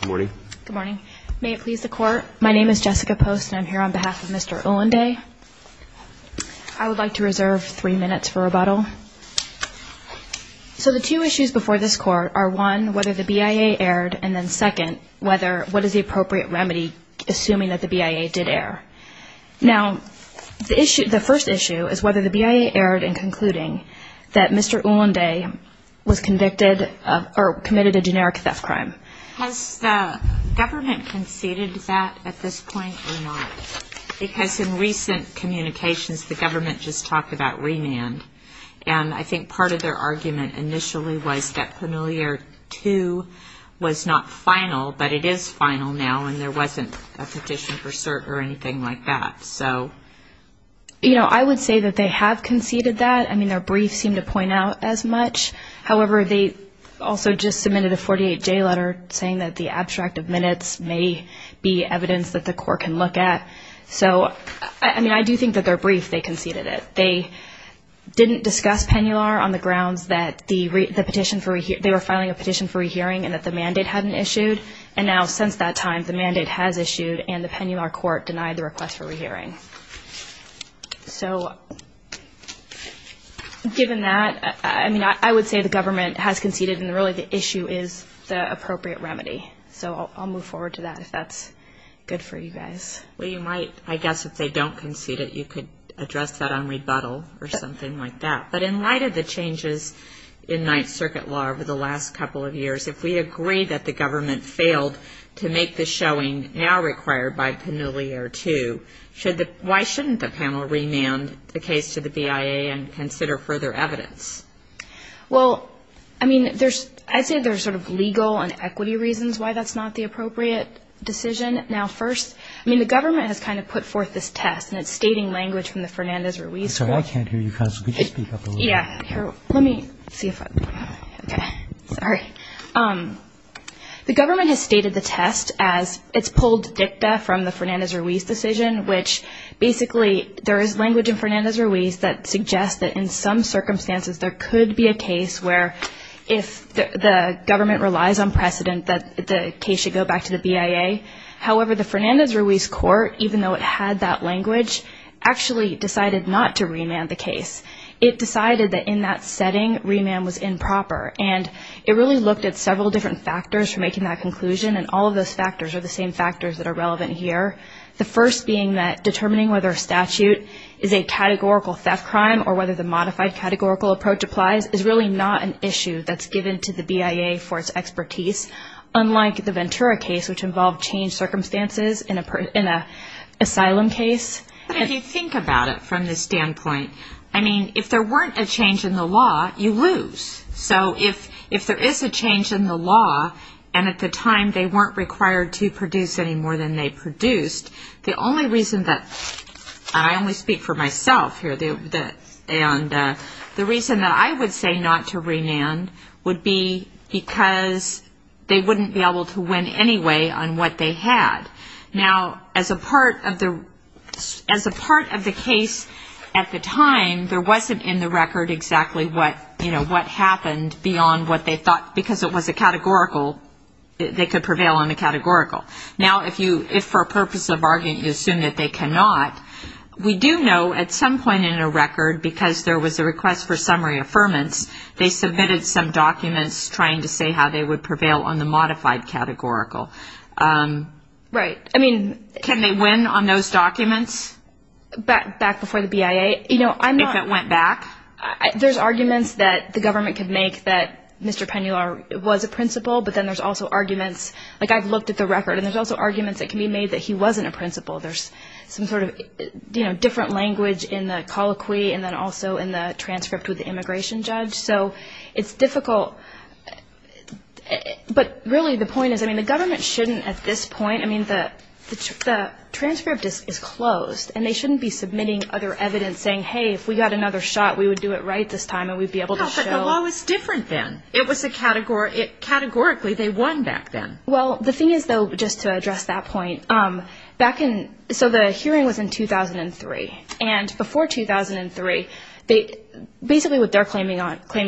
Good morning. Good morning. May it please the court, my name is Jessica Post and I'm here on behalf of Mr. Ulanday. I would like to reserve three minutes for rebuttal. So the two issues before this court are, one, whether the BIA erred, and then, second, what is the appropriate remedy assuming that the BIA did err? Now, the first issue is whether the BIA erred in concluding that Mr. Ulanday was convicted or committed a generic theft crime. Has the government conceded that at this point or not? Because in recent communications, the government just talked about remand, and I think part of their argument initially was that Familiar II was not final, but it is final now, and there wasn't a petition for cert or anything like that. I would say that they have conceded that. I mean, their brief seemed to point out as much. However, they also just submitted a 48-J letter saying that the abstract of minutes may be evidence that the court can look at. So, I mean, I do think that their brief, they conceded it. They didn't discuss Pennular on the grounds that they were filing a petition for rehearing and that the mandate hadn't issued, and now since that time, the mandate has issued and the Pennular court denied the request for rehearing. So, given that, I mean, I would say the government has conceded and really the issue is the appropriate remedy. So I'll move forward to that if that's good for you guys. Well, you might, I guess if they don't concede it, you could address that on rebuttal or something like that. But in light of the changes in Ninth Circuit law over the last couple of years, if we agree that the government failed to make the showing now required by Pennular II, why shouldn't the panel remand the case to the BIA and consider further evidence? Well, I mean, I'd say there's sort of legal and equity reasons why that's not the appropriate decision. Now, first, I mean, the government has kind of put forth this test, and it's stating language from the Fernandez-Ruiz trial. I'm sorry, I can't hear you constantly. Could you speak up a little bit? Yeah, here, let me see if I, okay, sorry. The government has stated the test as it's pulled dicta from the Fernandez-Ruiz decision, which basically there is language in Fernandez-Ruiz that suggests that in some circumstances there could be a case where if the government relies on precedent that the case should go back to the BIA. However, the Fernandez-Ruiz court, even though it had that language, actually decided not to remand the case. It decided that in that setting remand was improper, and it really looked at several different factors for making that conclusion, and all of those factors are the same factors that are relevant here, the first being that determining whether a statute is a categorical theft crime or whether the modified categorical approach applies is really not an issue that's given to the BIA for its expertise, unlike the Ventura case, which involved changed circumstances in an asylum case. If you think about it from the standpoint, I mean, if there weren't a change in the law, you lose. So if there is a change in the law, and at the time they weren't required to produce any more than they produced, the only reason that, and I only speak for myself here, and the reason that I would say not to remand would be because they wouldn't be able to win anyway on what they had. Now, as a part of the case at the time, there wasn't in the record exactly what, you know, what happened beyond what they thought, because it was a categorical, they could prevail on the categorical. Now, if for a purpose of argument you assume that they cannot, we do know at some point in a record, because there was a request for summary affirmance, they submitted some documents trying to say how they would prevail on the modified categorical. Right. I mean. Can they win on those documents? Back before the BIA? You know, I'm not. If it went back? There's arguments that the government could make that Mr. Penular was a principal, but then there's also arguments, like I've looked at the record, and there's also arguments that can be made that he wasn't a principal. There's some sort of, you know, different language in the colloquy, and then also in the transcript with the immigration judge. So it's difficult, but really the point is, I mean, the government shouldn't at this point, I mean, the transcript is closed, and they shouldn't be submitting other evidence saying, hey, if we got another shot, we would do it right this time, and we'd be able to show. But the law was different then. It was a categorical, they won back then. Well, the thing is, though, just to address that point, back in, so the hearing was in 2003, and before 2003, basically what they're claiming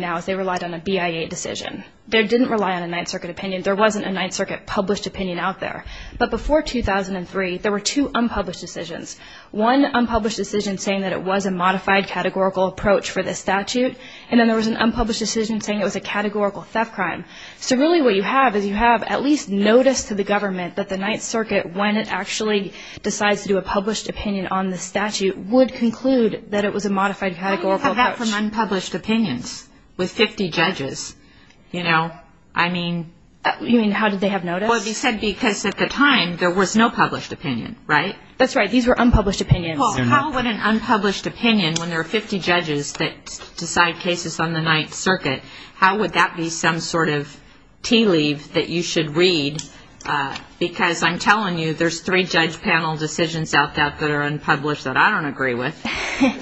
now is they relied on a BIA decision. They didn't rely on a Ninth Circuit opinion. There wasn't a Ninth Circuit published opinion out there. But before 2003, there were two unpublished decisions, one unpublished decision saying that it was a modified categorical approach for this statute, and then there was an unpublished decision saying it was a categorical theft crime. So really what you have is you have at least notice to the government that the Ninth Circuit, when it actually decides to do a published opinion on the statute, would conclude that it was a modified categorical approach. How do you have that from unpublished opinions with 50 judges? You know, I mean. You mean how did they have notice? Well, they said because at the time there was no published opinion, right? That's right. These were unpublished opinions. Well, how would an unpublished opinion, when there are 50 judges that decide cases on the Ninth Circuit, how would that be some sort of tea leave that you should read? Because I'm telling you, there's three judge panel decisions out there that are unpublished that I don't agree with.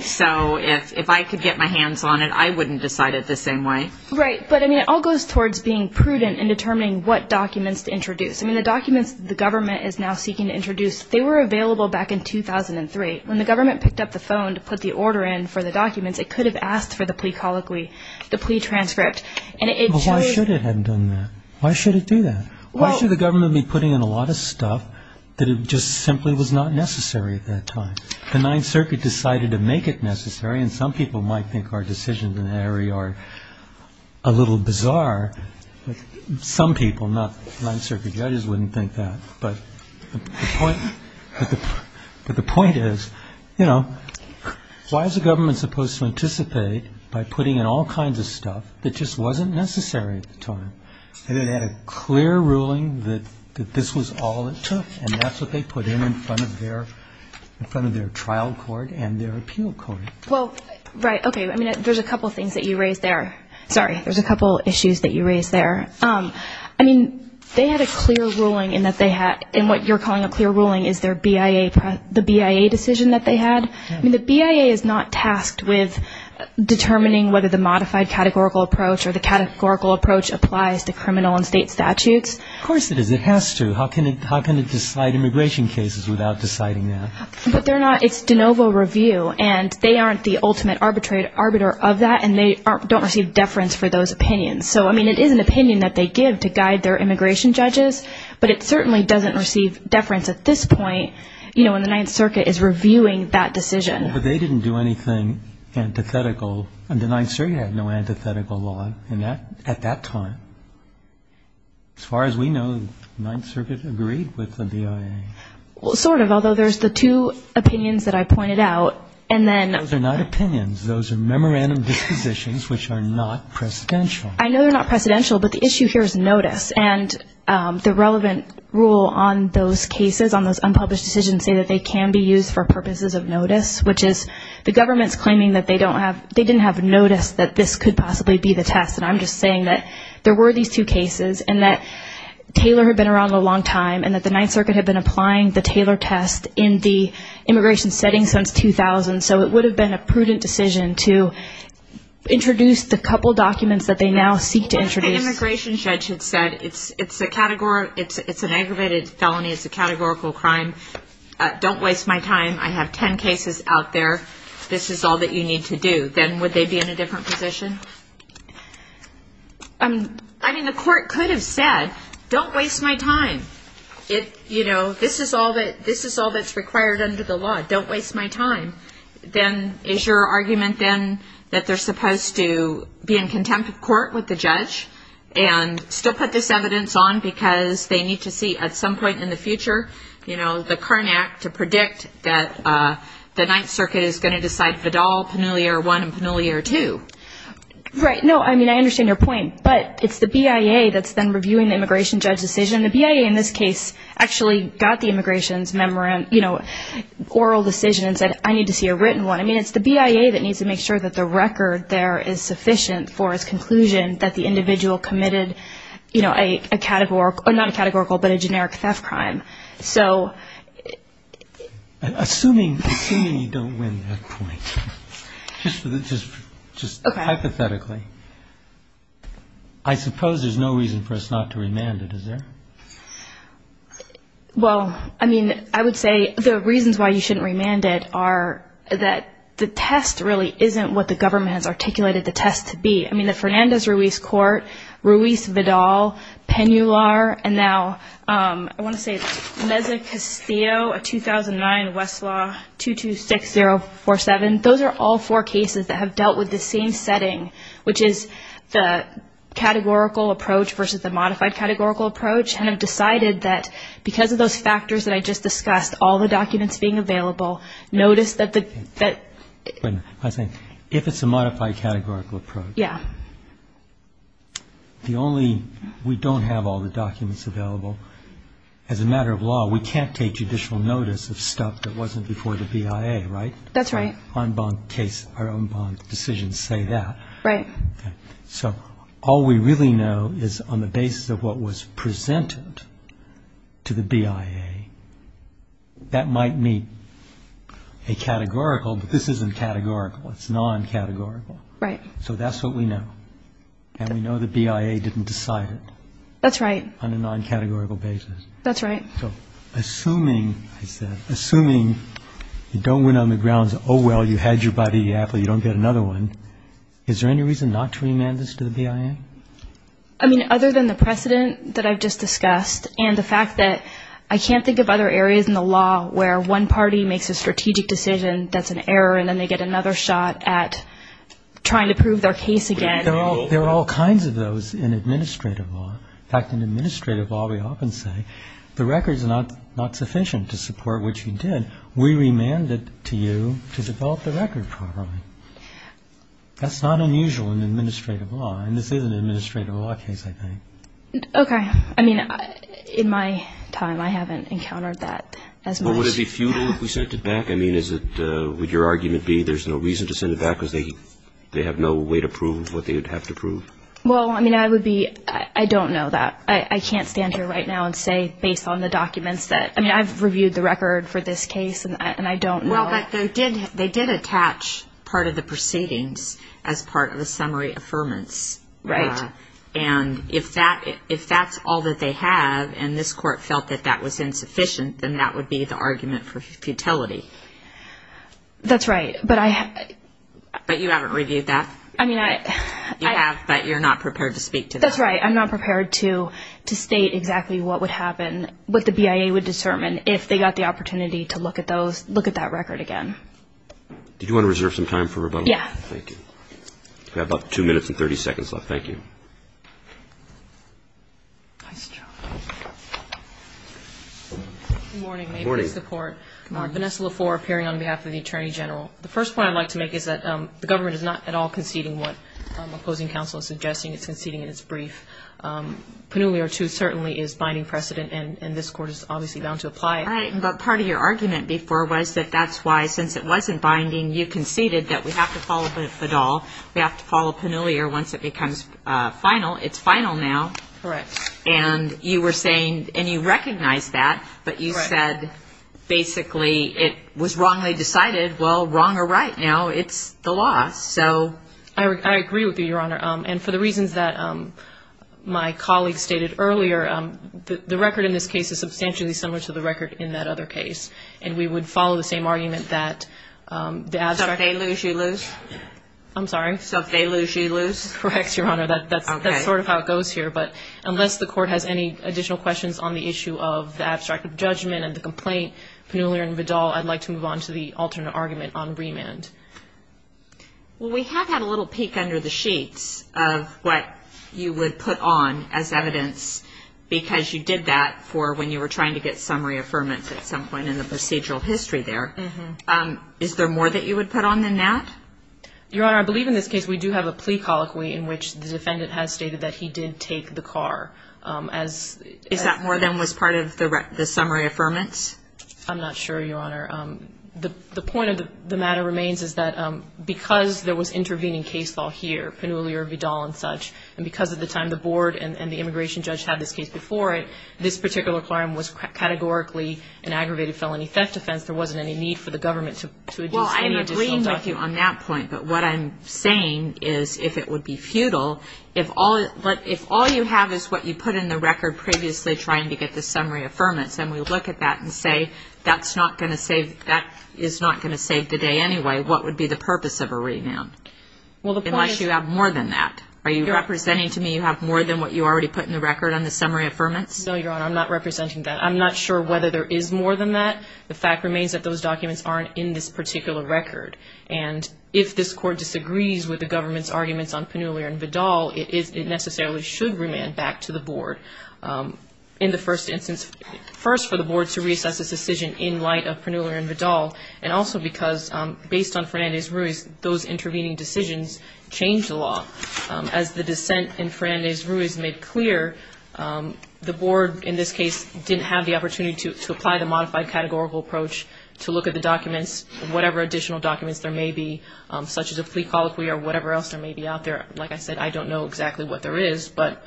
So if I could get my hands on it, I wouldn't decide it the same way. Right. But, I mean, it all goes towards being prudent in determining what documents to introduce. I mean, the documents the government is now seeking to introduce, they were available back in 2003. When the government picked up the phone to put the order in for the documents, it could have asked for the plea colloquy, the plea transcript. Why should it have done that? Why should it do that? Why should the government be putting in a lot of stuff that just simply was not necessary at that time? The Ninth Circuit decided to make it necessary, and some people might think our decisions in that area are a little bizarre. Some people, not the Ninth Circuit judges, wouldn't think that. But the point is, you know, why is the government supposed to anticipate by putting in all kinds of stuff that just wasn't necessary at the time? It had a clear ruling that this was all it took, and that's what they put in in front of their trial court and their appeal court. Well, right. Okay. I mean, there's a couple things that you raised there. Sorry. There's a couple issues that you raised there. I mean, they had a clear ruling in that they had, in what you're calling a clear ruling, is their BIA, the BIA decision that they had. I mean, the BIA is not tasked with determining whether the modified categorical approach or the categorical approach applies to criminal and state statutes. Of course it is. It has to. How can it decide immigration cases without deciding that? But they're not. It's de novo review, and they aren't the ultimate arbitrator of that, and they don't receive deference for those opinions. So, I mean, it is an opinion that they give to guide their immigration judges, but it certainly doesn't receive deference at this point, you know, when the Ninth Circuit is reviewing that decision. Well, but they didn't do anything antithetical, and the Ninth Circuit had no antithetical law at that time. As far as we know, the Ninth Circuit agreed with the BIA. Well, sort of, although there's the two opinions that I pointed out, and then... Those are not opinions. Those are memorandum dispositions, which are not precedential. I know they're not precedential, but the issue here is notice, and the relevant rule on those cases, on those unpublished decisions, say that they can be used for purposes of notice, which is the government's claiming that they didn't have notice that this could possibly be the test, and I'm just saying that there were these two cases, and that Taylor had been around a long time, and that the Ninth Circuit had been applying the Taylor test in the immigration setting since 2000, so it would have been a prudent decision to introduce the couple documents that they now seek to introduce. What if the immigration judge had said it's an aggravated felony, it's a categorical crime, don't waste my time, I have ten cases out there, this is all that you need to do, then would they be in a different position? I mean, the court could have said, don't waste my time, this is all that's required under the law, don't waste my time. Then is your argument then that they're supposed to be in contempt of court with the judge, and still put this evidence on because they need to see at some point in the future, you know, the current act to predict that the Ninth Circuit is going to decide Vidal, Penelier 1, and Penelier 2? Right, no, I mean, I understand your point, but it's the BIA that's then reviewing the immigration judge's decision. The BIA in this case actually got the immigration's oral decision and said, I need to see a written one. I mean, it's the BIA that needs to make sure that the record there is sufficient for its conclusion that the individual committed, you know, a categorical, not a categorical, but a generic theft crime. Assuming you don't win that point, just hypothetically, I suppose there's no reason for us not to remand it, is there? Well, I mean, I would say the reasons why you shouldn't remand it are that the test really isn't what the government has articulated the test to be. I mean, the Fernandez-Ruiz court, Ruiz-Vidal, Penular, and now I want to say Meza-Castillo, a 2009 Westlaw 226047, those are all four cases that have dealt with the same setting, which is the categorical approach versus the modified categorical approach, and have decided that because of those factors that I just discussed, all the documents being available, notice that the ‑‑ If it's a modified categorical approach. The only ‑‑ we don't have all the documents available. As a matter of law, we can't take judicial notice of stuff that wasn't before the BIA, right? That's right. So all we really know is on the basis of what was presented to the BIA, that might meet a categorical, but this isn't categorical, it's noncategorical. Right. So that's what we know, and we know the BIA didn't decide it. That's right. On a noncategorical basis. That's right. So assuming, I said, assuming you don't win on the grounds, oh, well, you had your buddy, you don't get another one, is there any reason not to remand this to the BIA? I mean, other than the precedent that I've just discussed, and the fact that I can't think of other areas in the law where one party makes a strategic decision that's an error, and then they get another shot at trying to prove their case again. There are all kinds of those in administrative law. In fact, in administrative law, we often say the record's not sufficient to support what you did. We remanded it to you to develop the record properly. That's not unusual in administrative law, and this is an administrative law case, I think. Okay. I mean, in my time, I haven't encountered that as much. Would it be futile if we sent it back? I mean, is it, would your argument be there's no reason to send it back because they have no way to prove what they would have to prove? Well, I mean, I would be, I don't know that. I can't stand here right now and say based on the documents that, I mean, I've reviewed the record for this case, and I don't know. Well, but they did attach part of the proceedings as part of the summary affirmance. Right. And if that's all that they have, and this court felt that that was insufficient, then that would be the argument for futility. That's right, but I have. But you haven't reviewed that? I mean, I. You have, but you're not prepared to speak to that. That's right. I'm not prepared to state exactly what would happen, what the BIA would determine if they got the opportunity to look at those, look at that record again. Did you want to reserve some time for rebuttal? Yes. Thank you. We have about two minutes and 30 seconds left. Thank you. Good morning. May it please the Court. Good morning. Vanessa LaFleur, appearing on behalf of the Attorney General. The first point I'd like to make is that the government is not at all conceding what opposing counsel is suggesting. It's conceding in its brief. Panulia, too, certainly is binding precedent, and this Court is obviously bound to apply it. All right, but part of your argument before was that that's why, since it wasn't binding, you conceded that we have to follow Bedall, we have to follow Panulia once it becomes final. It's final now. Correct. And you were saying, and you recognized that, but you said basically it was wrongly decided. Well, wrong or right now, it's the law, so. I agree with you, Your Honor, and for the reasons that my colleague stated earlier, the record in this case is substantially similar to the record in that other case, and we would follow the same argument that the abstract. So if they lose, you lose? Well, we have had a little peek under the sheets of what you would put on as evidence because you did that for when you were trying to get summary affirmance at some point in the procedural history there. Is there more that you would put on than that? Your Honor, I believe in this case we do have a plea colloquy in which the defendant has stated that he did take the car. Is that more than was part of the summary affirmance? I'm not sure, Your Honor. The point of the matter remains is that because there was intervening case law here, Panulia, Vidal, and such, and because at the time the board and the immigration judge had this case before it, this particular clarm was categorically an aggravated felony theft offense, there wasn't any need for the government to do any additional stuff. I agree with you on that point, but what I'm saying is if it would be futile, if all you have is what you put in the record previously trying to get the summary affirmance, and we look at that and say that is not going to save the day anyway, what would be the purpose of a renoun? Unless you have more than that. Are you representing to me you have more than what you already put in the record on the summary affirmance? No, Your Honor, I'm not representing that. I'm not sure whether there is more than that. The fact remains that those documents aren't in this particular record, and if this Court disagrees with the government's arguments on Panulia and Vidal, it necessarily should remand back to the board, first for the board to reassess its decision in light of Panulia and Vidal, and also because based on Fernandez-Ruiz, those intervening decisions changed the law. As the dissent in Fernandez-Ruiz made clear, the board in this case didn't have the opportunity to apply the modified categorical approach to look at the documents, whatever additional documents there may be, such as a plea colloquy or whatever else there may be out there. Like I said, I don't know exactly what there is, but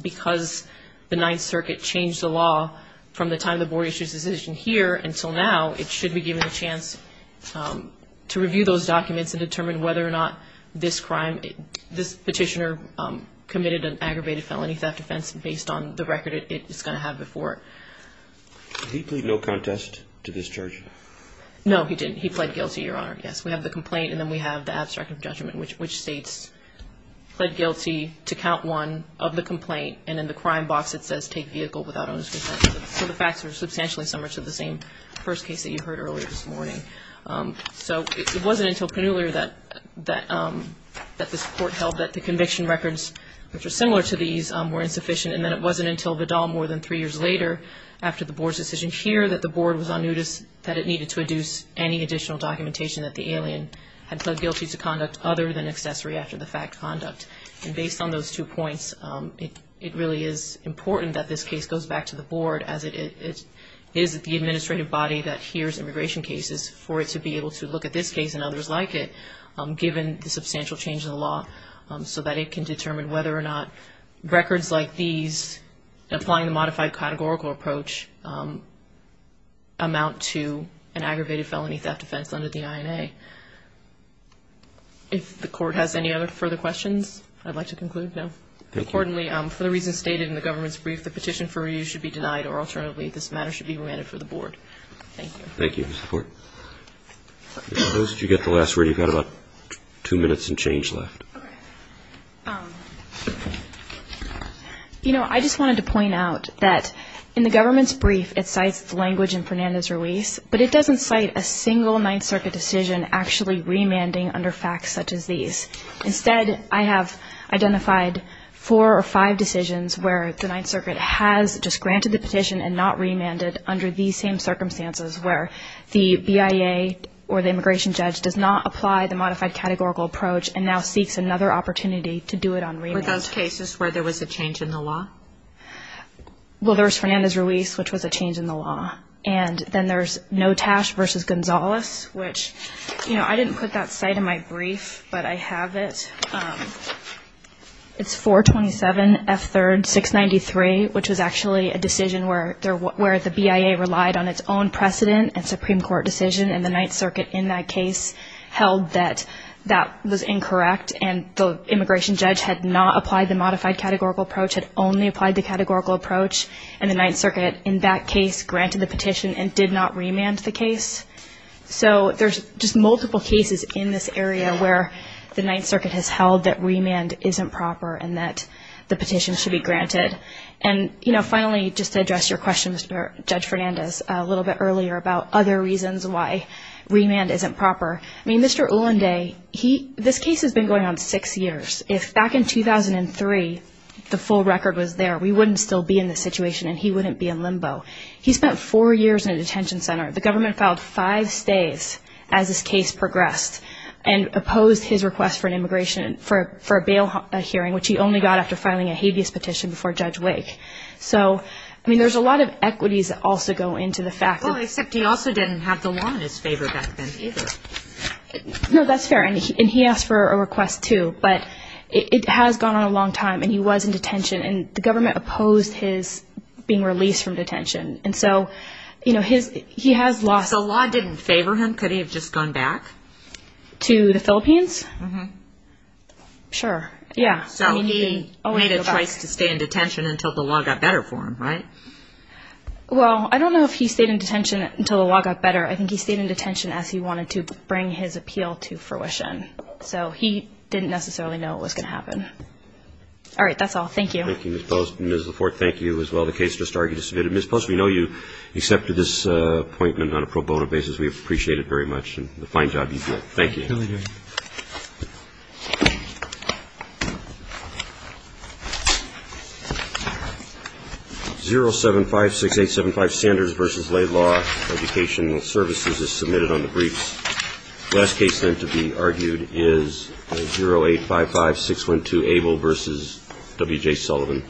because the Ninth Circuit changed the law from the time the board issued its decision here until now, it should be given a chance to review those documents and determine whether or not this crime, this petitioner committed an aggravated felony theft offense based on the record it's going to have before. Did he plead no contest to this charge? No, he didn't. He pled guilty, Your Honor. Yes, we have the complaint, and then we have the abstract of judgment, which states, pled guilty to count one of the complaint, and in the crime box it says, take vehicle without owners consent. So the facts are substantially similar to the same first case that you heard earlier this morning. So it wasn't until Panulia that this Court held that the conviction records, which are similar to these, were insufficient, and then it wasn't until Vidal more than three years later, after the board's decision here, that the board was on notice that it needed to adduce any additional documentation that the alien had pled guilty to conduct other than accessory after-the-fact conduct. And based on those two points, it really is important that this case goes back to the board, as it is the administrative body that hears immigration cases, for it to be able to look at this case and others like it, given the substantial change in the law, so that it can determine whether or not records like these, applying the modified categorical approach, amount to an aggravated felony theft offense under the INA. If the Court has any other further questions, I'd like to conclude now. Thank you. Accordingly, for the reasons stated in the government's brief, the petition for review should be denied, or alternatively, this matter should be remanded for the board. Thank you. Those of you who got the last word, you've got about two minutes and change left. You know, I just wanted to point out that in the government's brief, it cites the language in Fernandez-Ruiz, but it doesn't cite a single Ninth Circuit decision actually remanding under facts such as these. Instead, I have identified four or five decisions where the Ninth Circuit has just granted the petition, and not remanded under these same circumstances, where the BIA or the immigration judge does not apply the modified categorical approach, and now seeks another opportunity to do it on remand. Were those cases where there was a change in the law? Well, there was Fernandez-Ruiz, which was a change in the law. And then there's Notash v. Gonzalez, which, you know, I didn't put that cite in my brief, but I have it. It's 427 F. 3rd, 693, which was actually a decision where the BIA relied on its own precedent and Supreme Court decision, and the Ninth Circuit in that case held that that was incorrect, and the immigration judge had not applied the modified categorical approach, had only applied the categorical approach, and the Ninth Circuit in that case granted the petition and did not remand the case. So there's just multiple cases in this area where the Ninth Circuit has held that remand isn't proper and that the petition should be granted. And, you know, finally, just to address your question, Judge Fernandez, a little bit earlier about other reasons why remand isn't proper. I mean, Mr. Ulanday, this case has been going on six years. If back in 2003 the full record was there, we wouldn't still be in this situation, and he wouldn't be in limbo. He spent four years in a detention center. The government filed five stays as this case progressed and opposed his request for an immigration, for a bail hearing, which he only got after filing a habeas petition before Judge Wake. So, I mean, there's a lot of equities that also go into the fact that... Well, except he also didn't have the law in his favor back then either. No, that's fair, and he asked for a request too, but it has gone on a long time, and he was in detention, and the government opposed his being released from detention. So law didn't favor him? Could he have just gone back? To the Philippines? Sure, yeah. So he made a choice to stay in detention until the law got better for him, right? Well, I don't know if he stayed in detention until the law got better. I think he stayed in detention as he wanted to bring his appeal to fruition. So he didn't necessarily know what was going to happen. All right, that's all. Thank you. Thank you, Ms. Post. Ms. Lafort, thank you as well. The case just argued is submitted. Ms. Post, we know you accepted this appointment on a pro bono basis. We appreciate it very much, and the fine job you did. Thank you. 0756875 Sanders v. Laidlaw Education Services is submitted on the briefs. The last case, then, to be argued is 0855612 Abel v. W.J. Sullivan.